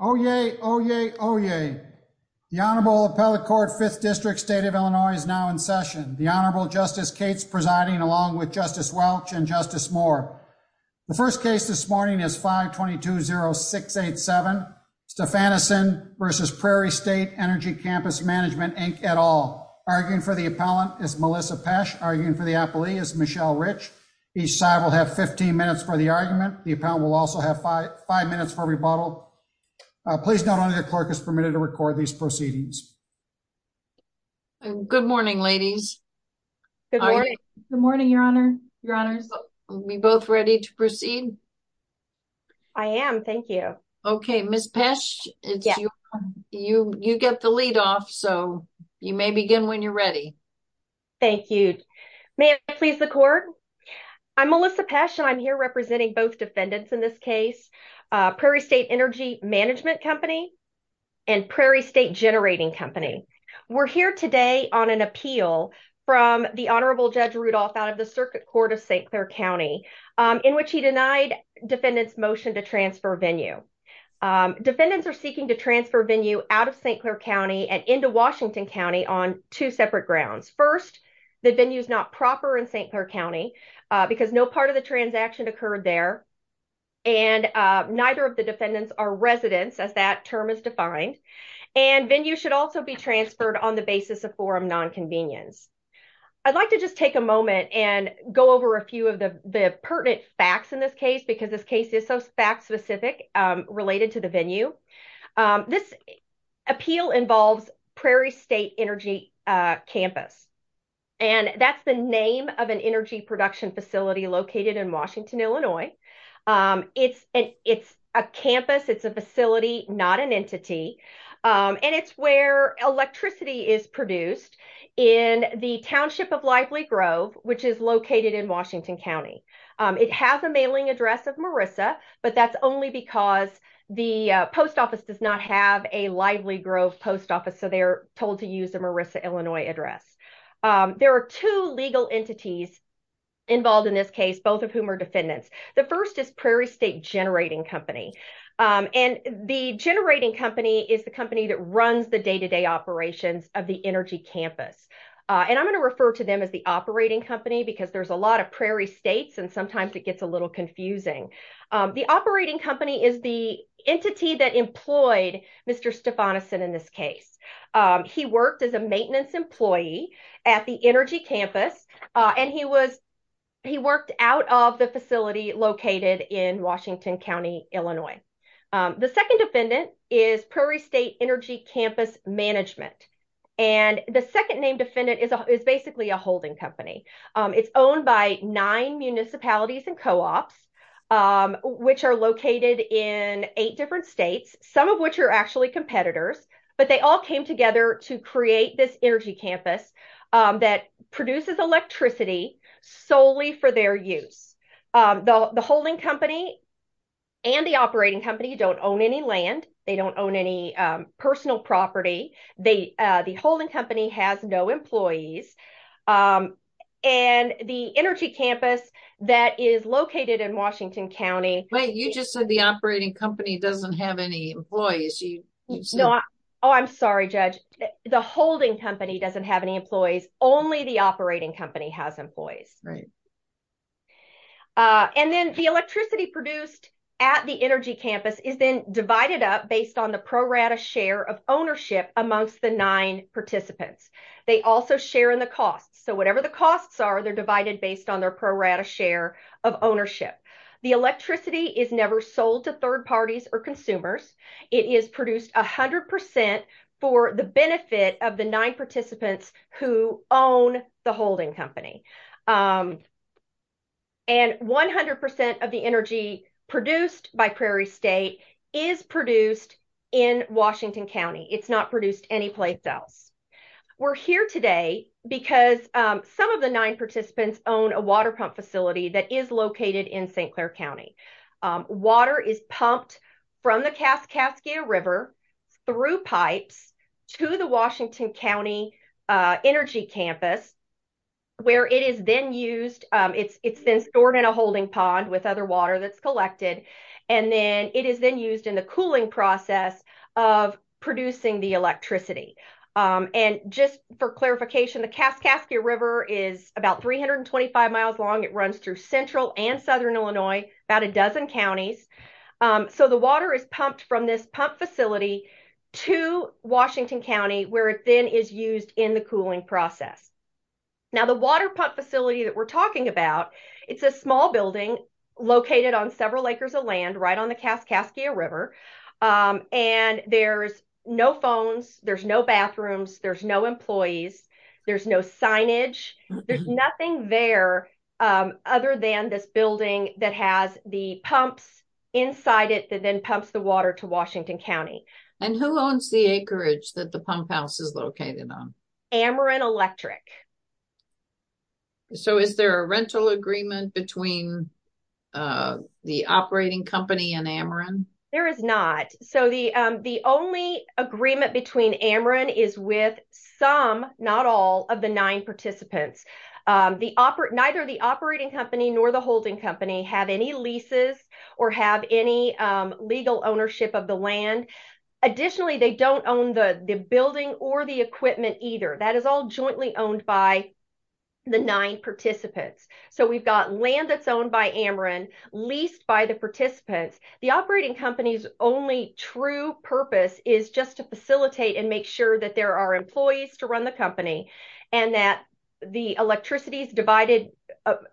Oyez, oyez, oyez. The Honorable Appellate Court, 5th District, State of Illinois, is now in session. The Honorable Justice Cates presiding along with Justice Welch and Justice Moore. The first case this morning is 5-220-687, Stefanisin v. Prairie State Energy Campus Management, Inc. et al. Arguing for the appellant is Melissa Pesch. Arguing for the appellee is Michelle Rich. Each side will have 15 minutes for the argument. The appellant will also have five minutes for rebuttal. Please note only the clerk is permitted to record these proceedings. Good morning, ladies. Good morning. Good morning, Your Honor. Your Honors. Are we both ready to proceed? I am. Thank you. Okay. Ms. Pesch, you get the lead off, so you may begin when you're ready. Thank you. May I please the court? I'm Melissa Pesch, and I'm here representing both defendants in this case, Prairie State Energy Management Company and Prairie State Generating Company. We're here today on an appeal from the Honorable Judge Rudolph out of the Circuit Court of St. Clair County, in which he denied defendants' motion to transfer venue. Defendants are seeking to transfer venue out of St. Clair County and into Washington County on two separate grounds. First, the venue is not proper in St. Clair County because no part of the transaction occurred there, and neither of the defendants are residents, as that term is defined, and venue should also be transferred on the basis of forum nonconvenience. I'd like to just take a moment and go over a few of the pertinent facts in this case because this case is so fact-specific related to the venue. This appeal involves Prairie State Energy Campus, and that's the name of an energy production facility located in Washington, Illinois. It's a campus. It's a facility, not an entity, and it's where electricity is produced in the township of Lively Grove, which is located in Washington County. It has a mailing address of Marissa, but that's only because the post office does not have a Lively Grove post office, so they're told to use a Marissa, Illinois address. There are two legal entities involved in this case, both of whom are defendants. The first is Prairie State Generating Company, and the generating company is the company that runs the day-to-day operations of the energy campus, and I'm going to refer to them as the operating company because there's a little confusing. The operating company is the entity that employed Mr. Stephanison in this case. He worked as a maintenance employee at the energy campus, and he worked out of the facility located in Washington County, Illinois. The second defendant is Prairie State Energy Campus Management, and the second named defendant is basically a holding company. It's owned by nine municipalities and co-ops, which are located in eight different states, some of which are actually competitors, but they all came together to create this energy campus that produces electricity solely for their use. The holding company and the operating company don't own any land. They don't own any personal property. The holding company has no employees, and the energy campus that is located in Washington County. Wait, you just said the operating company doesn't have any employees. Oh, I'm sorry, Judge. The holding company doesn't have any employees. Only the operating company has employees. And then the electricity produced at the energy campus is then divided up based on the pro rata share of ownership amongst the nine participants. They also share in the costs. So whatever the costs are, they're divided based on their pro rata share of ownership. The electricity is never sold to third parties or consumers. It is produced 100% for the benefit of the nine participants who own the holding company. And 100% of the energy produced by Prairie State is produced in Washington County. It's not produced any place else. We're here today because some of the nine participants own a water pump facility that is located in St. Clair County. Water is pumped from the Kaskaskia River through pipes to the Washington County energy campus where it is then used. It's been stored in a holding pond with other water that's collected, and then it is then used in the cooling process of producing the electricity. And just for clarification, the Kaskaskia River is about 325 miles long. It runs through central and southern Illinois, about a dozen counties. So the water is pumped from this pump facility to Washington County where it then is used in the cooling process. Now the water pump facility that we're talking about, it's a small building located on several acres of land right on the Kaskaskia River. And there's no phones. There's no bathrooms. There's no employees. There's no signage. There's nothing there other than this building that has the pumps inside it that then pumps the water to Washington County. And who owns the acreage that the pump house is located on? Ameren Electric. So is there a rental agreement between the operating company and Ameren? There is not. So the only agreement between Ameren is with some, not all, of the nine participants. Neither the operating company nor the holding company have any leases or have any legal ownership of the land. Additionally, they don't own the building or the equipment either. That is all jointly owned by the nine participants. So we've got land that's owned by Ameren leased by the participants. The operating company's only true purpose is just to facilitate and make sure that there are employees to run the company and that the electricity is divided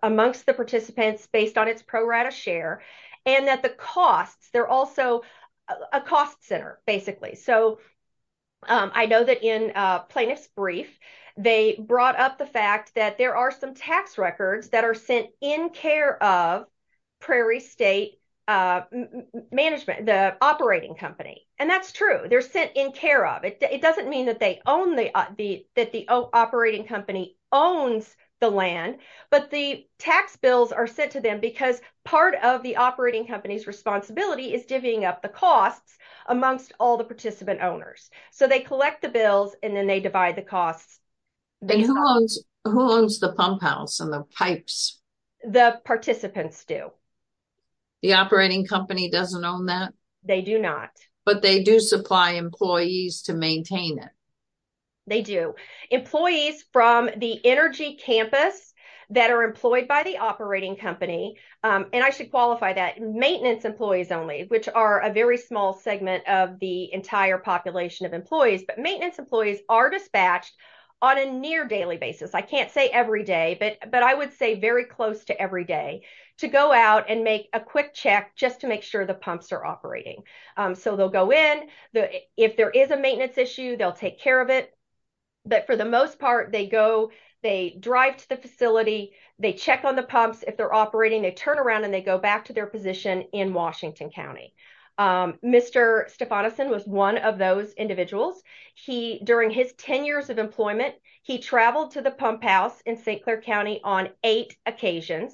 amongst the participants based on its pro rata share and that the costs, they're also a cost center basically. So I know that in a plaintiff's brief, they brought up the fact that there are some tax records that are sent in care of Prairie State management, the operating company. And that's true. They're sent in care of it. It doesn't mean that they own the, that the operating company owns the land, but the tax bills are sent to them because part of the operating company's divvying up the costs amongst all the participant owners. So they collect the bills and then they divide the costs. Who owns the pump house and the pipes? The participants do. The operating company doesn't own that? They do not. But they do supply employees to maintain it. They do. Employees from the energy campus that are employed by the operating company. And I should qualify that maintenance employees only, which are a very small segment of the entire population of employees, but maintenance employees are dispatched on a near daily basis. I can't say every day, but, but I would say very close to every day to go out and make a quick check just to make sure the pumps are operating. So they'll go in the, if there is a maintenance issue, they'll take care of it. But for the most part, they go, they drive to the facility, they check on the pumps. If they're operating, they turn around and they go back to their position in Washington County. Mr. Stefanosin was one of those individuals. He, during his 10 years of employment, he traveled to the pump house in St. Clair County on eight occasions.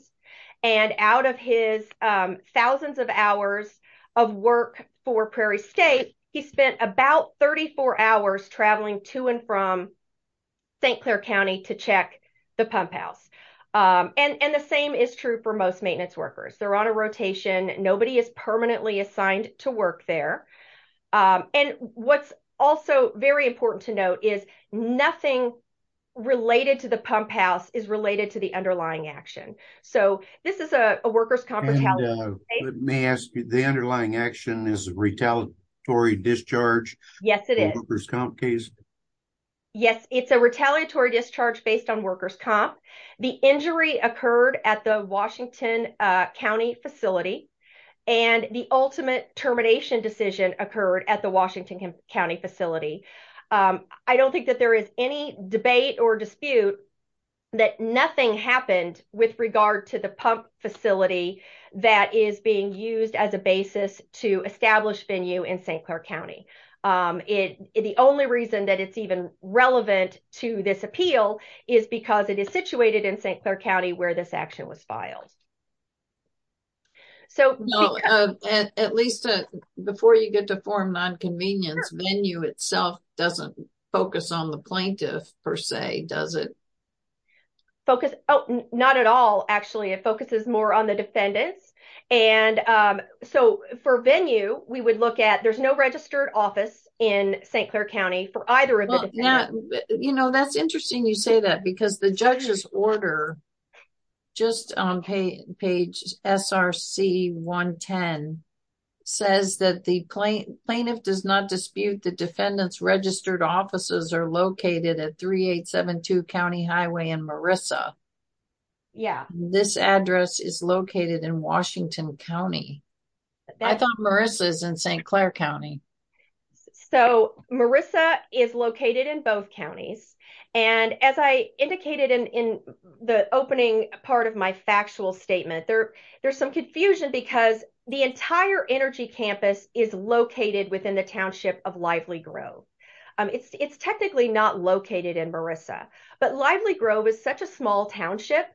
And out of his thousands of hours of work for Prairie state, he spent about 34 hours traveling to and from. St. Clair County. And the same is true for most maintenance workers. They're on a rotation. Nobody is permanently assigned to work there. And what's also very important to note is nothing. Related to the pump house is related to the underlying action. So this is a worker's comp retaliation. May I ask you the underlying action is retaliatory discharge. Yes, it is. Workers comp case. Yes, it's a retaliatory discharge based on workers comp. The injury occurred at the Washington County facility. And the ultimate termination decision occurred at the Washington County facility. I don't think that there is any debate or dispute. That nothing happened with regard to the pump facility. That is being used as a basis to establish venue in St. Clair County. The only reason that it's even relevant to this appeal is because it is situated in St. Clair County where this action was filed. So at least before you get to form nonconvenience, venue itself doesn't focus on the plaintiff per se. Does it focus? Oh, not at all. Actually, it focuses more on the defendants. And so for venue, we would look at, there's no registered office in St. Clair County for either of them. Yeah. You know, that's interesting. You say that because the judge's order. Just on page SRC. One 10. Says that the plane plaintiff does not dispute the defendants registered offices are located at three, eight, seven, two County highway and Marissa. Yeah. This address is located in Washington County. I thought Marissa's in St. Clair County. So Marissa is located in both counties. And as I indicated in the opening part of my factual statement, there there's some confusion because the entire energy campus is located within the township of lively grove. It's technically not located in Marissa, but lively grove is such a small township.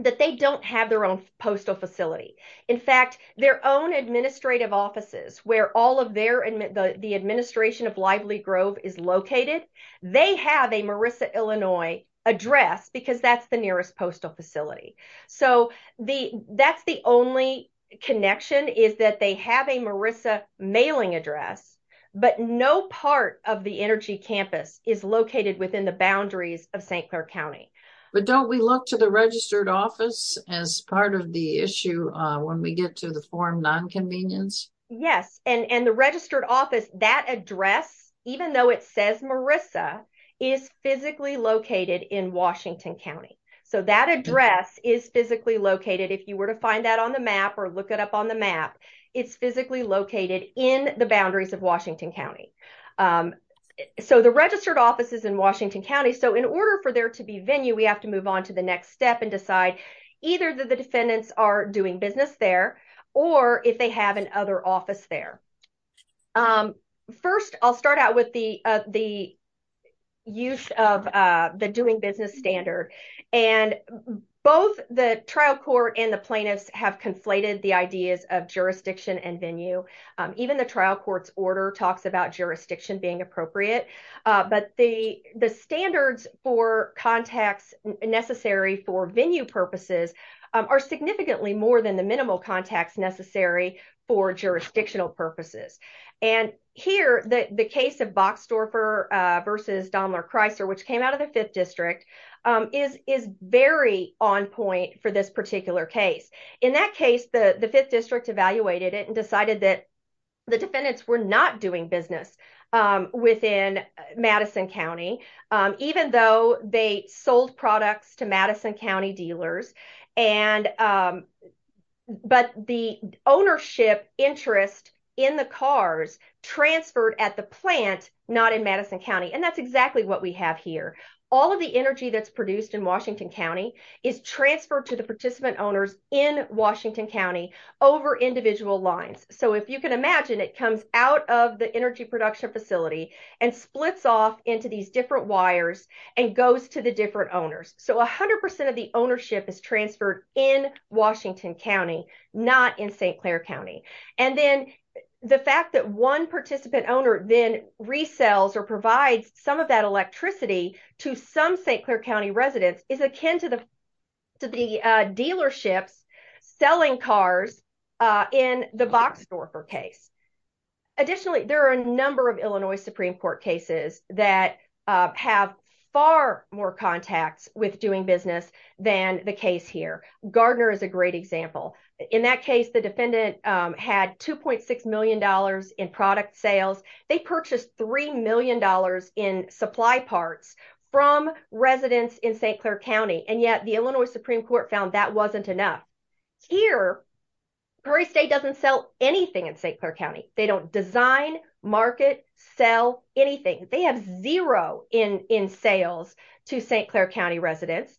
That they don't have their own postal facility. In fact, their own administrative offices where all of their, and the administration of lively grove is located. They have a Marissa, Illinois. Address because that's the nearest postal facility. So the that's the only connection is that they have a Marissa mailing address, but no part of the energy campus is located within the boundaries of St. Clair County. But don't we look to the registered office as part of the issue when we get to the form non-convenience? Yes. And the registered office, that address, even though it says Marissa is physically located in Washington County. So that address is physically located. If you were to find that on the map or look it up on the map, it's physically located in the boundaries of Washington County. So the registered offices in Washington County. So in order for there to be venue, we have to move on to the next step and decide either that the defendants are doing business there or if they have an other office there. First, I'll start out with the, the use of the doing business standard and both the trial court and the plaintiffs have conflated the ideas of jurisdiction and venue. Even the trial court's order talks about jurisdiction being appropriate. But the, the standards for contacts necessary for venue purposes are significantly more than the minimal contacts necessary for jurisdictional purposes. And here, the case of Boxdorfer versus Daimler Chrysler, which came out of the fifth district is, is very on point for this particular case. In that case, the fifth district evaluated it and decided that the defendants were not doing business within Madison County, even though they sold products to Madison County dealers. And, but the ownership interest in the cars transferred at the plant, not in Madison County. And that's exactly what we have here. All of the energy that's produced in Washington County is transferred to the participant owners in Washington County over individual lines. So if you can imagine it comes out of the energy production facility and splits off into these different wires and goes to the different owners. So a hundred percent of the ownership is transferred in Washington County, not in St. Clair County. And then the fact that one participant owner then resells or provides some of that electricity to some St. Clair County residents is akin to the, to the dealerships selling cars in the box store for case. Additionally, there are a number of Illinois Supreme court cases that have far more contacts with doing business than the case here. Gardner is a great example. In that case, the defendant had $2.6 million in product sales. They purchased $3 million in supply parts from residents in St. Clair County. And yet the Illinois Supreme court found that wasn't enough here. Prairie state doesn't sell anything in St. Clair County. They don't design market, sell anything. They have zero in, in sales to St. Clair County residents.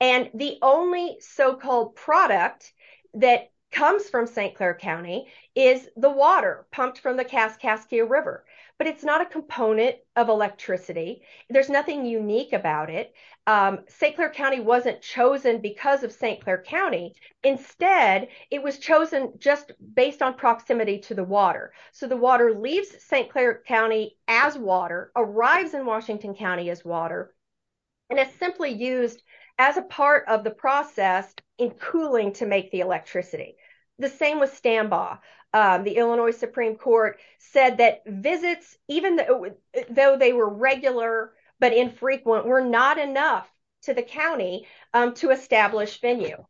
And the only so-called product that comes from St. Clair County is the water pumped from the cask Casca river, but it's not a component of electricity. There's nothing unique about it. St. Clair County wasn't chosen because of St. Clair County. Instead, it was chosen just based on proximity to the water. So the water leaves St. Clair County as water arrives in Washington County as water. And it's simply used as a part of the process in cooling to make the electricity. The same with standby. The Illinois Supreme court said that visits, even though they were regular, but infrequent were not enough to the County to establish venue.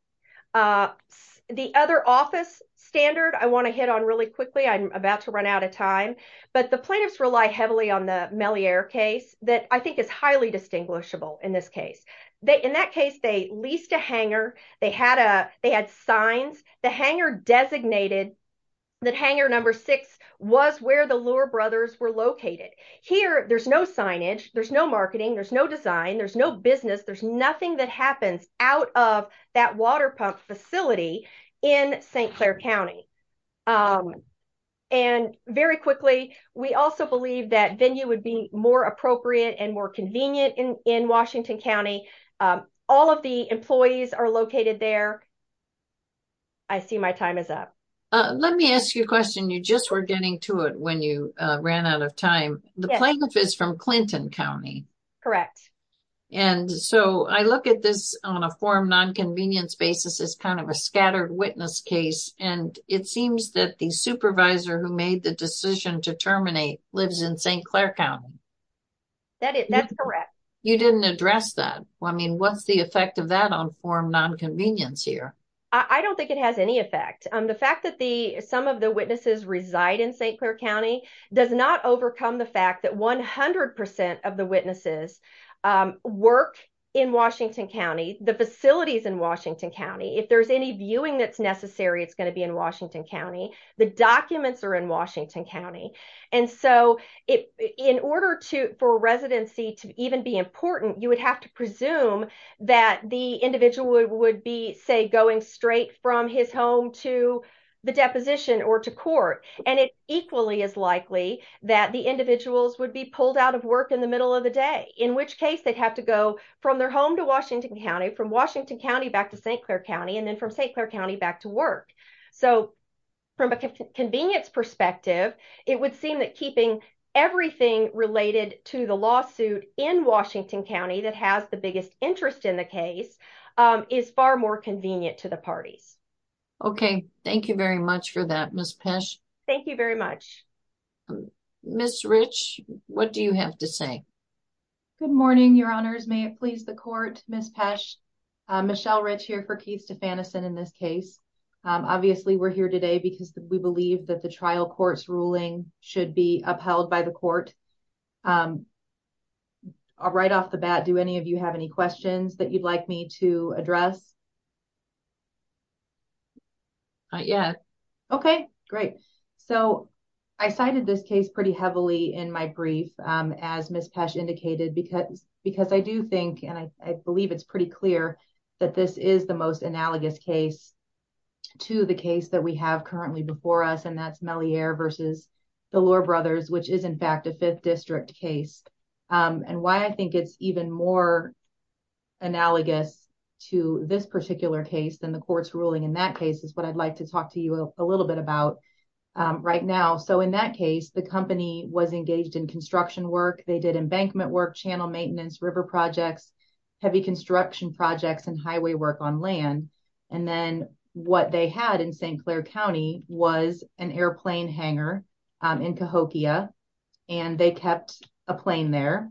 The other office standard, I want to hit on really quickly. I'm about to run out of time, but the plaintiffs rely heavily on the Mellier case that I think is highly distinguishable. In this case, they, in that case, they leased a hanger. They had a, they had signs, the hanger designated. That hanger number six was where the lure brothers were located here. There's no signage. There's no marketing. There's no design. There's no business. There's nothing that happens out of that water pump facility in St. Clair County. And very quickly, we also believe that venue would be more appropriate and more convenient in, in Washington County. All of the employees are located there. I see my time is up. Let me ask you a question. You just were getting to it when you ran out of time. The plaintiff is from Clinton County. Correct. And so I look at this on a form, non-convenience basis is kind of a scattered witness case. And it seems that the supervisor who made the decision to terminate lives in St. Clair County. That's correct. You didn't address that. I mean, what's the effect of that on form non-convenience here? I don't think it has any effect. The fact that the, some of the witnesses reside in St. Clair County, the fact that 100% of the witnesses. Work in Washington County, the facilities in Washington County, if there's any viewing that's necessary, it's going to be in Washington County. The documents are in Washington County. And so it, in order to, for residency to even be important, you would have to presume that the individual would, would be say going straight from his home to the deposition or to court. And it equally as likely that the individuals would be pulled out of work in the middle of the day, in which case they'd have to go from their home to Washington County, from Washington County, back to St. Clair County and then from St. Clair County back to work. So from a convenience perspective, it would seem that keeping everything related to the lawsuit in Washington County that has the biggest interest in the case is far more convenient to the parties. Okay. Thank you very much for that. Ms. Pesh. Thank you very much. Ms. Rich, what do you have to say? Good morning, your honors. May it please the court, Ms. Pesh, Michelle Rich here for Keith Stefanis and in this case, obviously we're here today because we believe that the trial court's ruling should be upheld by the court. Right off the bat. Do any of you have any questions that you'd like me to address? Yeah. Okay. Great. So. I cited this case pretty heavily in my brief. As Ms. Pesh indicated, because, because I do think, and I, I believe it's pretty clear. That this is the most analogous case. To the case that we have currently before us. And that's Mellie air versus. The lower brothers, which is in fact a fifth district case. And why I think it's even more. Analogous to this particular case than the court's ruling in that case is what I'd like to talk to you a little bit about. Right now. So in that case, the company was engaged in construction work. They did embankment work, channel maintenance, river projects. Heavy construction projects and highway work on land. And then what they had in St. Claire County was an airplane hangar. In Cahokia. And they kept a plane there.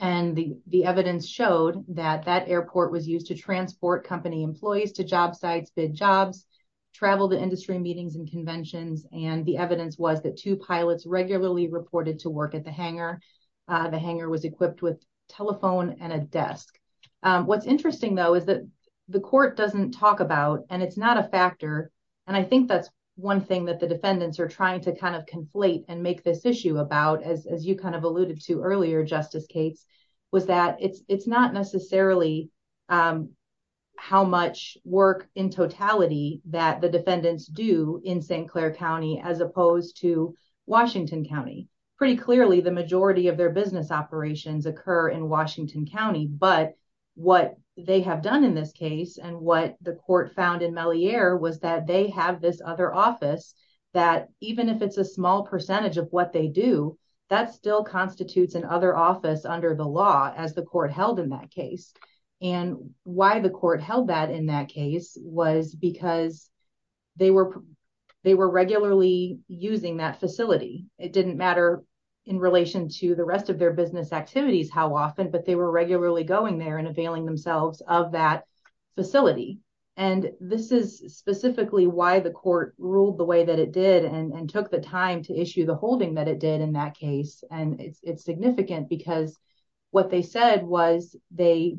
And the, the evidence showed that that airport was used to transport company employees to job sites, bid jobs. Travel to industry meetings and conventions. And the evidence was that two pilots regularly reported to work at the hangar. The hangar was equipped with telephone and a desk. What's interesting though, is that. The court doesn't talk about, and it's not a factor. I think that's one thing that the defendants are trying to kind of conflate and make this issue about as, as you kind of alluded to earlier, justice Cates. Was that it's, it's not necessarily. How much work in totality that the defendants do in St. Claire County, as opposed to Washington County. Pretty clearly the majority of their business operations occur in Washington County, but what they have done in this case. Is that they have this other office. And what the court found in Mellie air was that they have this other office. That even if it's a small percentage of what they do, that's still constitutes an other office under the law as the court held in that case. And why the court held that in that case was because. They were. They were regularly using that facility. It didn't matter. In relation to the rest of their business activities, how often, but they were regularly going there and availing themselves of that facility. And this is specifically why the court ruled the way that it did and took the time to issue the holding that it did in that case. And the other office. And it's, it's significant because. What they said was they.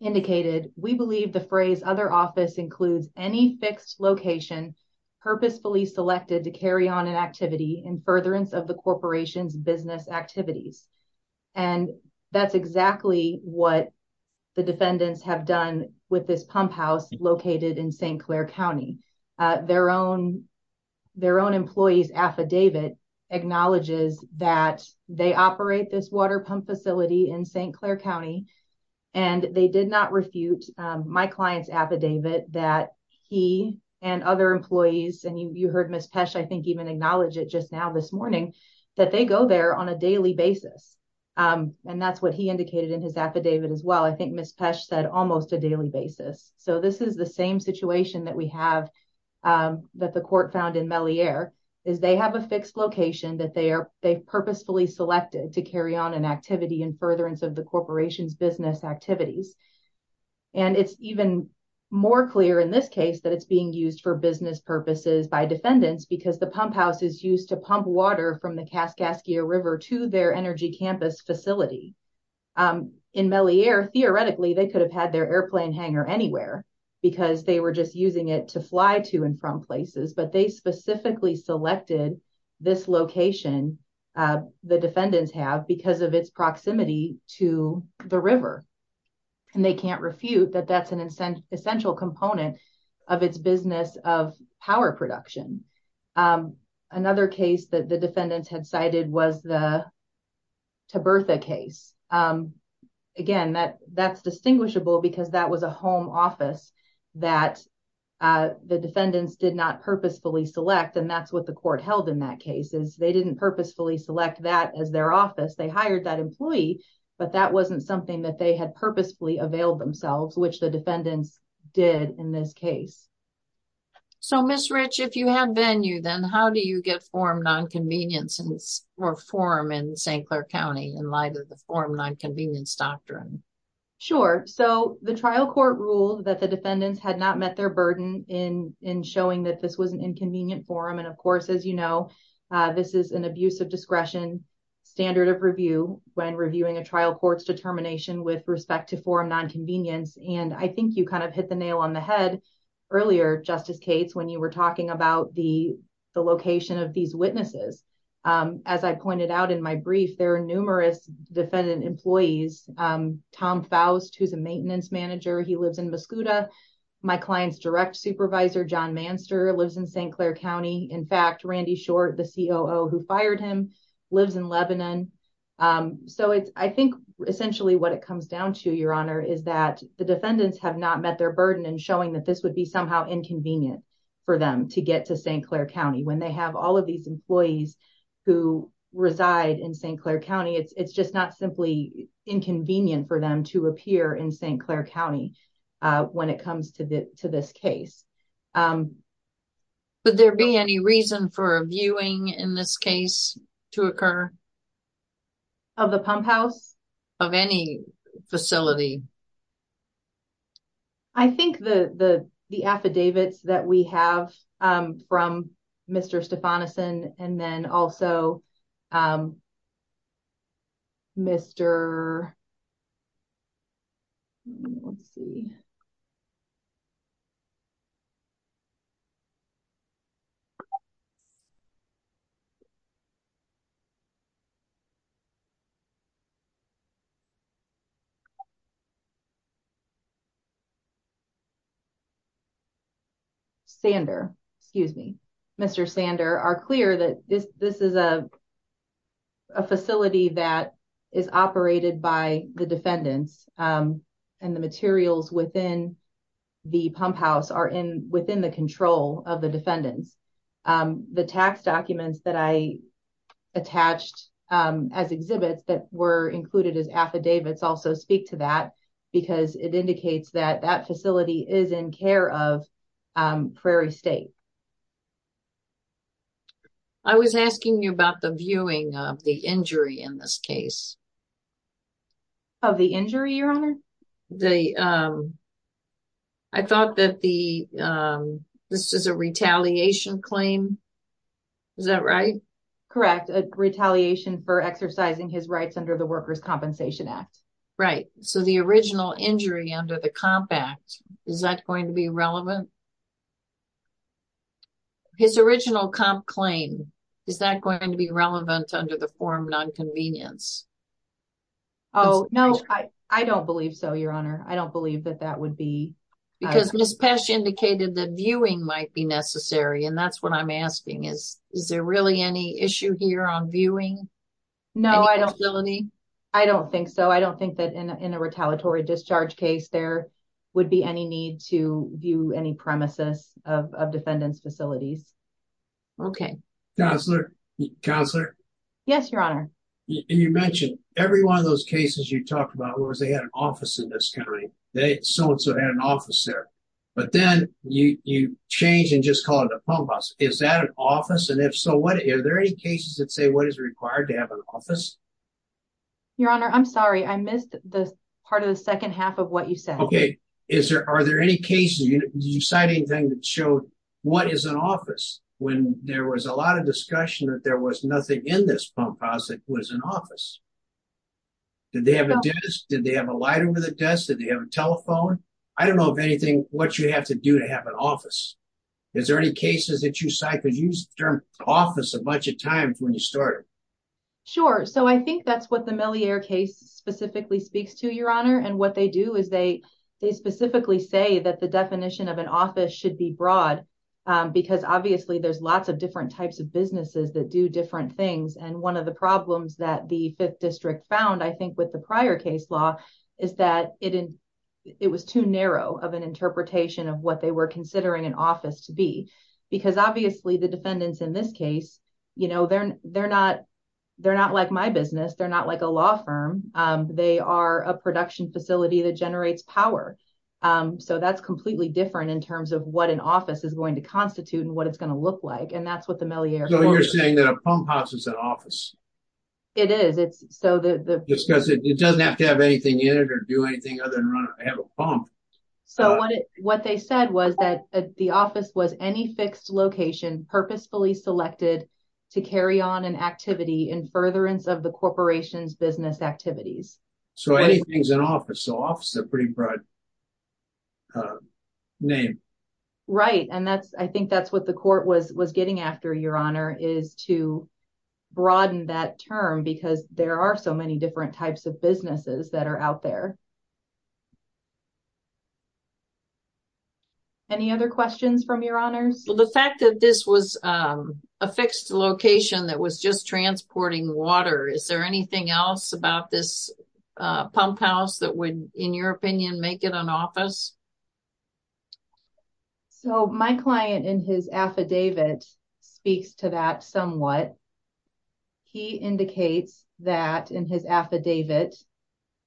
Indicated. We believe the phrase other office includes any fixed location purposefully selected to carry on an activity in furtherance of the corporation's business activities. And that's exactly what the defendants have done with this pump house located in St. Claire County. Their own. Their own employees affidavit. Acknowledges that they operate this water pump facility in St. Claire County. And they did not refute my client's affidavit that he and other employees. And you, you heard Ms. Pesh, I think even acknowledge it just now this morning. That they go there on a daily basis. And that's what he indicated in his affidavit as well. I think Ms. Pesh said almost a daily basis. So this is the same situation that we have. That the court found in Mellie air is they have a fixed location that they are, they purposefully selected to carry on an activity in furtherance of the corporation's business activities. And it's even more clear in this case that it's being used for business purposes by defendants because the pump house is used to pump water from the Kaskaskia river to their energy campus facility. In Mellie air, theoretically, they could have had their airplane hanger anywhere because they were just using it to fly to and from places, but they specifically selected this location. The defendants have because of its proximity to the river. And they can't refute that that's an incentive, that's an incentive for them to use that location. And that's an essential component. Of its business of power production. Another case that the defendants had cited was the. To birth a case. Again, that that's distinguishable because that was a home office. That. The defendants did not purposefully select. And that's what the court held in that case is they didn't purposefully select that as their office. They hired that employee, but that wasn't something that they had purposefully availed themselves, which the defendants did in this case. So miss rich, if you had venue, then how do you get formed on convenience? And it's more form in St. Clair County in light of the form nonconvenience doctrine. Sure. So the trial court ruled that the defendants had not met their burden in, in showing that this was an inconvenient forum. And of course, as you know, this is an abuse of discretion. Standard of review when reviewing a trial court's determination with respect to form nonconvenience. And I think you kind of hit the nail on the head. Earlier justice Cates, when you were talking about the. The location of these witnesses. As I pointed out in my brief, there are numerous defendant employees. And I think it's important to point out that the defendants have not met their burden in showing that this would be somehow inconvenient for them to get to St. Clair County when they have all of these employees. Who reside in St. Clair County. It's, it's just not simply. Clair County. It's just not simply inconvenient for them to appear in St. Clair County. When it comes to the, to this case. But there'd be any reason for a viewing in this case. To occur. Of the pump house. Of any facility. I think the, the, the affidavits that we have. From Mr. Stefan. Mr. Jonathan and then also. Mr. Let's see. Okay. Sander, excuse me. Mr. Sander are clear that this, this is a. A facility that is operated by the defendants. And the materials within. The pump house are in within the control of the defendants. The tax documents that I. Attached as exhibits that were included as affidavits also speak to that. Because it indicates that that facility is in care of. Prairie state. I was asking you about the viewing of the injury in this case. Of the injury, your honor. The. I thought that the, this is a retaliation claim. Is that right? Correct. Retaliation for exercising his rights under the workers compensation act. Right. So the original injury under the compact. Is that going to be relevant? His original comp claim. Is that going to be relevant under the form non-convenience? Oh, no, I, I don't believe so. Your honor. I don't believe that that would be. Because this past year indicated that viewing might be necessary. And that's what I'm asking is, is there really any issue here on viewing? No, I don't. I don't think so. I don't think that in a, in a retaliatory discharge case, there would be any need to view any premises of, of defendants facilities. Okay. Counselor. Counselor. Yes, your honor. And you mentioned every one of those cases you talked about, whereas they had an office in this country. They so-and-so had an officer. But then you, you change and just call it a pump house. Is that an office? And if so, what is there any cases that say, what is required to have an office? Your honor. I'm sorry. I missed the part of the second half of what you said. Okay. Is there, are there any cases? Did you cite anything that showed what is an office? When there was a lot of discussion that there was nothing in this pump house that was an office. Did they have a desk? Did they have a light over the desk? Did they have a telephone? I don't know if anything, what you have to do to have an office. Is there any cases that you cite? Cause you used the term office a bunch of times when you started. Sure. So I think that's what the Meliere case specifically speaks to your honor. And what they do is they, They specifically say that the definition of an office should be broad. Because obviously there's lots of different types of businesses that do different things. And one of the problems that the fifth district found, I think with the prior case law is that it. It was too narrow of an interpretation of what they were considering an office to be. Because obviously the defendants in this case, you know, they're, they're not. They're not like my business. They're not like a law firm. They are a production facility that generates power. So that's completely different in terms of what an office is going to constitute and what it's going to look like. And that's what the Meliere. So you're saying that a pump house is an office. It is it's so that. It doesn't have to have anything in it or do anything other than run. I have a pump. So what they said was that the office was any fixed location purposefully selected. To carry on an activity in furtherance of the corporation's business activities. So anything's an office office, a pretty broad. Name. Right. And that's, I think that's what the court was, was getting after your honor is to broaden that term because there are so many different types of businesses that are out there. Any other questions from your honors? The fact that this was a fixed location that was just transporting water. Is there anything else about this? Pump house that would, in your opinion, make it an office. So my client in his affidavit speaks to that somewhat. He indicates that in his affidavit.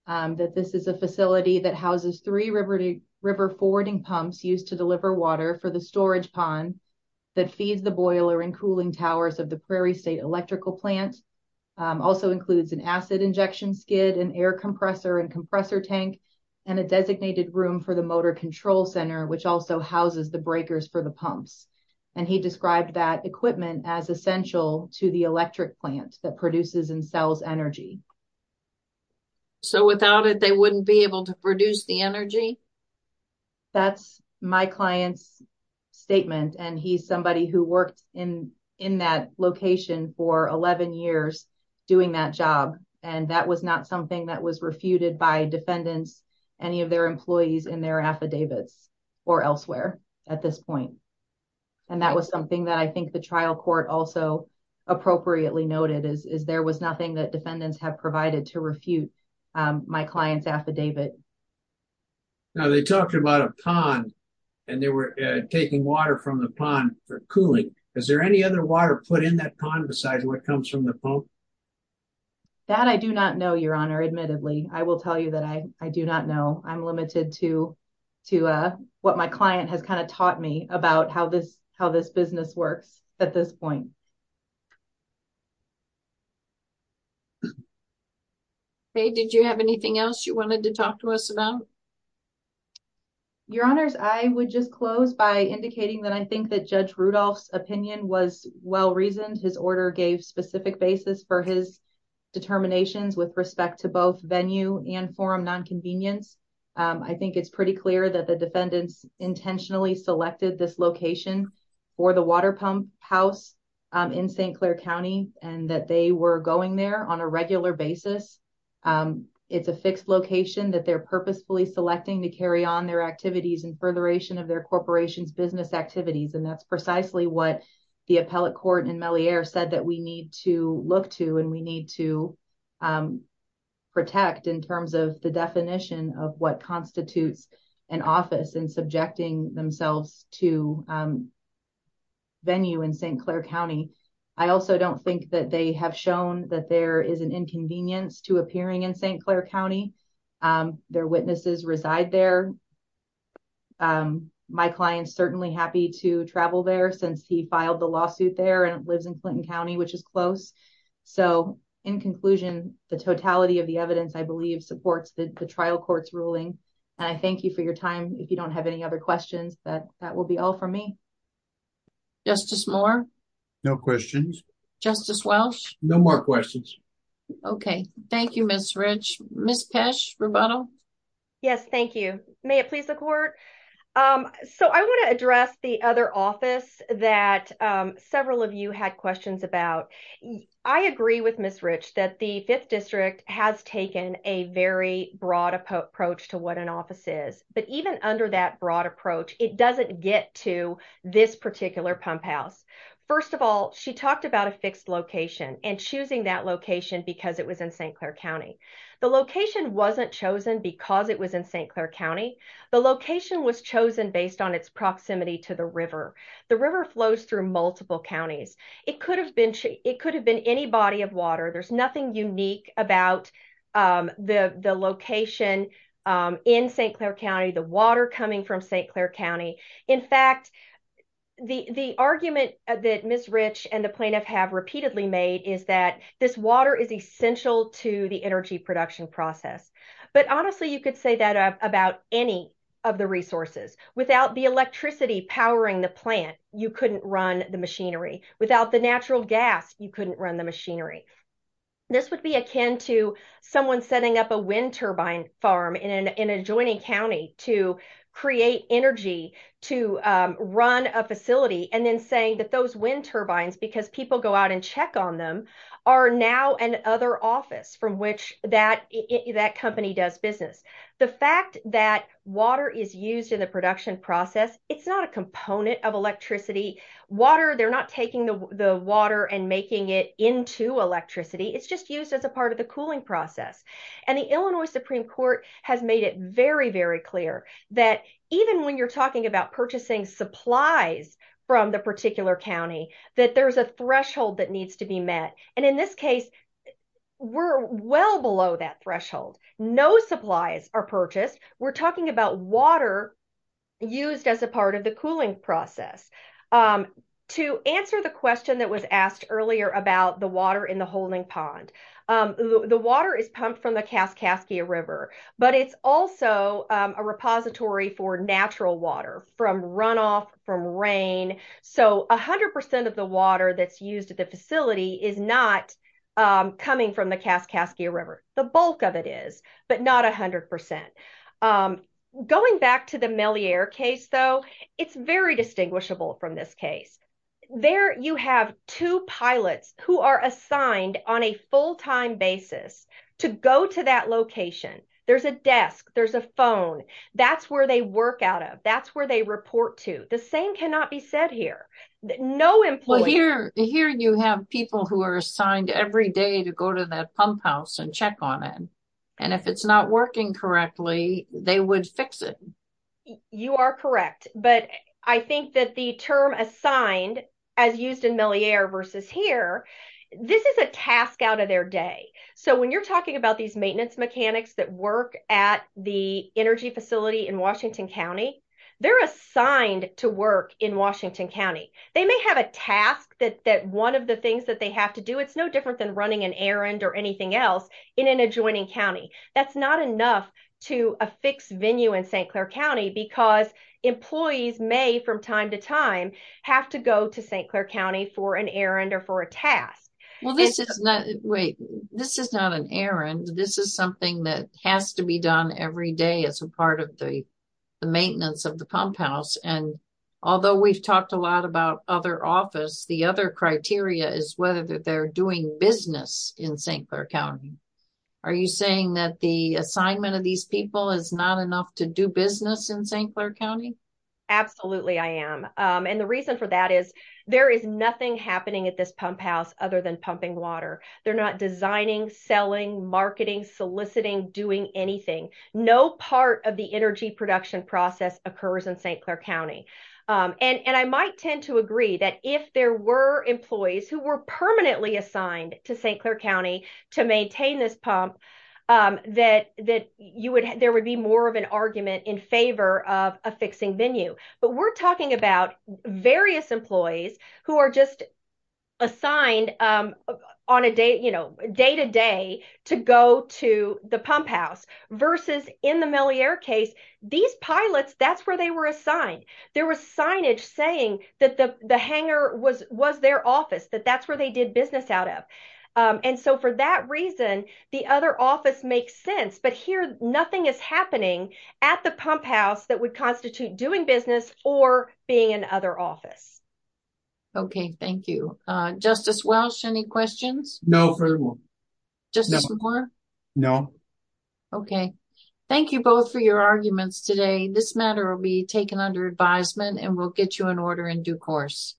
That this is a facility that houses three river to river forwarding pumps used to deliver water for the storage pond. That feeds the boiler and cooling towers of the Prairie state electrical plant. Also includes an acid injection skid and air compressor and compressor tank. And a designated room for the motor control center, which also houses the breakers for the pumps. And he described that equipment as essential to the electric plant that produces and sells energy. So without it, they wouldn't be able to produce the energy. That's my client's statement. And he's somebody who worked in, in that location for 11 years doing that job. And that was not something that was refuted by defendants. Any of their employees in their affidavits or elsewhere at this point. And that was something that I think the trial court also appropriately noted is, is there was nothing that defendants have provided to refute my client's affidavit. Now they talked about a pond and they were taking water from the pond for cooling. Is there any other water put in that pond? Besides what comes from the phone that I do not know your honor. Admittedly. I will tell you that I, I do not know. I'm limited to, to what my client has kind of taught me about how this, how this business works at this point. Okay. Thank you. Thank you. Any other questions? Your honors. I would just close by indicating that I think that judge Rudolph's opinion was well-reasoned. His order gave specific basis for his. Determinations with respect to both venue and forum non-convenience. I think it's pretty clear that the defendants intentionally selected this location. For the water pump house. And that they were going there on a regular basis. It's a fixed location that they're purposefully selecting to carry on their activities and furtheration of their corporations, business activities. And that's precisely what the appellate court and Mellie air said that we need to look to, and we need to. Protect in terms of the definition of what constitutes an office and So I think that the defendants. Are not. Subjecting themselves to. Venue in St. Clair County. I also don't think that they have shown that there is an inconvenience to appearing in St. Clair County. Their witnesses reside there. My client's certainly happy to travel there since he filed the lawsuit there and it lives in Clinton County, which is close. So in conclusion, the totality of the evidence, I believe, supports the trial court's ruling. And I thank you for your time. If you don't have any other questions that that will be all for me. Justice Moore. No questions. Justice Welsh. No more questions. Okay. Thank you, Ms. Rich. Ms. Pesh rubato. Yes. Thank you. May it please the court. So I want to address the other office that. And this is something that. Several of you had questions about. I agree with Ms. Rich that the fifth district has taken a very broad approach to what an office is, but even under that broad approach, it doesn't get to this particular pump house. First of all, when she was in the trial, she talked about a fixed location and choosing that location because it was in St. Clair County. The location wasn't chosen because it was in St. Clair County. The location was chosen based on its proximity to the river. The river flows through multiple counties. It could have been. It could have been any body of water. There's nothing unique about. The, the location. And there's no water coming in, in St. Clair County, the water coming from St. Clair County. In fact, The, the argument that Ms. Rich and the plaintiff have repeatedly made is that this water is essential to the energy production process. But honestly, you could say that about any. Of the resources without the electricity powering the plant. You couldn't run the machinery without the natural gas. You couldn't run the machinery. This would be akin to someone setting up a wind turbine farm in an, in a joining County to create energy to run a facility. And then saying that those wind turbines, because people go out and check on them are now an other office from which that that company does business. The fact that water is used in the production process. It's not a component of electricity water. They're not taking the water and making it into electricity. It's just used as a part of the cooling process. And the Illinois Supreme court has made it very, very clear that even when you're talking about purchasing supplies. From the particular County that there's a threshold that needs to be met. And in this case. We're well below that threshold. No supplies are purchased. We're talking about water. And so, the fact that the water is used as a part of the cooling process. To answer the question that was asked earlier about the water in the holding pond. The water is pumped from the Kaskaskia river, but it's also a repository for natural water from runoff from rain. So a hundred percent of the water that's used at the facility is not. Coming from the Kaskaskia river, the bulk of it is, but not a hundred percent. Going back to the Mellier case though. It's very distinguishable from this case. There you have two pilots who are assigned on a full-time basis. To go to that location. There's a desk. There's a phone. That's where they work out of. That's where they report to. The same cannot be said here. No employee. Here you have people who are assigned every day to go to that pump house and check on it. And if it's not working correctly, they would fix it. You are correct. But I think that the term assigned as used in Mellier versus here. This is a task out of their day. So when you're talking about these maintenance mechanics that work at the energy facility in Washington County. They're assigned to work in Washington County. They may have a task that, that one of the things that they have to do. It's no different than running an errand or anything else in an adjoining County. That's not enough to a fixed venue in St. Claire County because employees may from time to time. Have to go to St. Claire County for an errand or for a task. Well, this is not wait, this is not an errand. This is something that has to be done every day as a part of the. The maintenance of the pump house. And although we've talked a lot about other office, the other criteria is whether they're doing business in St. Claire County. Are you saying that the assignment of these people is not enough to do business in St. Claire County? Absolutely. I am. And the reason for that is there is nothing happening at this pump house, other than pumping water. They're not designing, selling, marketing, soliciting, doing anything. No part of the energy production process occurs in St. Claire County. And I might tend to agree that if there were employees who were permanently assigned to St. Claire County to maintain this pump, that, that you would, there would be more of an argument in favor of a fixing venue, but we're talking about various employees who are just. Assigned on a day, you know, day-to-day to go to the pump house versus in the Meliere case, these pilots, that's where they were assigned. There was signage saying that the, the hangar was, was their office, that that's where they did business out of. And so for that reason, the other office makes sense, but here nothing is happening at the pump house that would constitute doing business or being in other office. Okay. Thank you. Justice Welsh, any questions? No furthermore. Justice Moore? No. Okay. Thank you both for your arguments today. This matter will be taken under advisement and we'll get you an order in due course.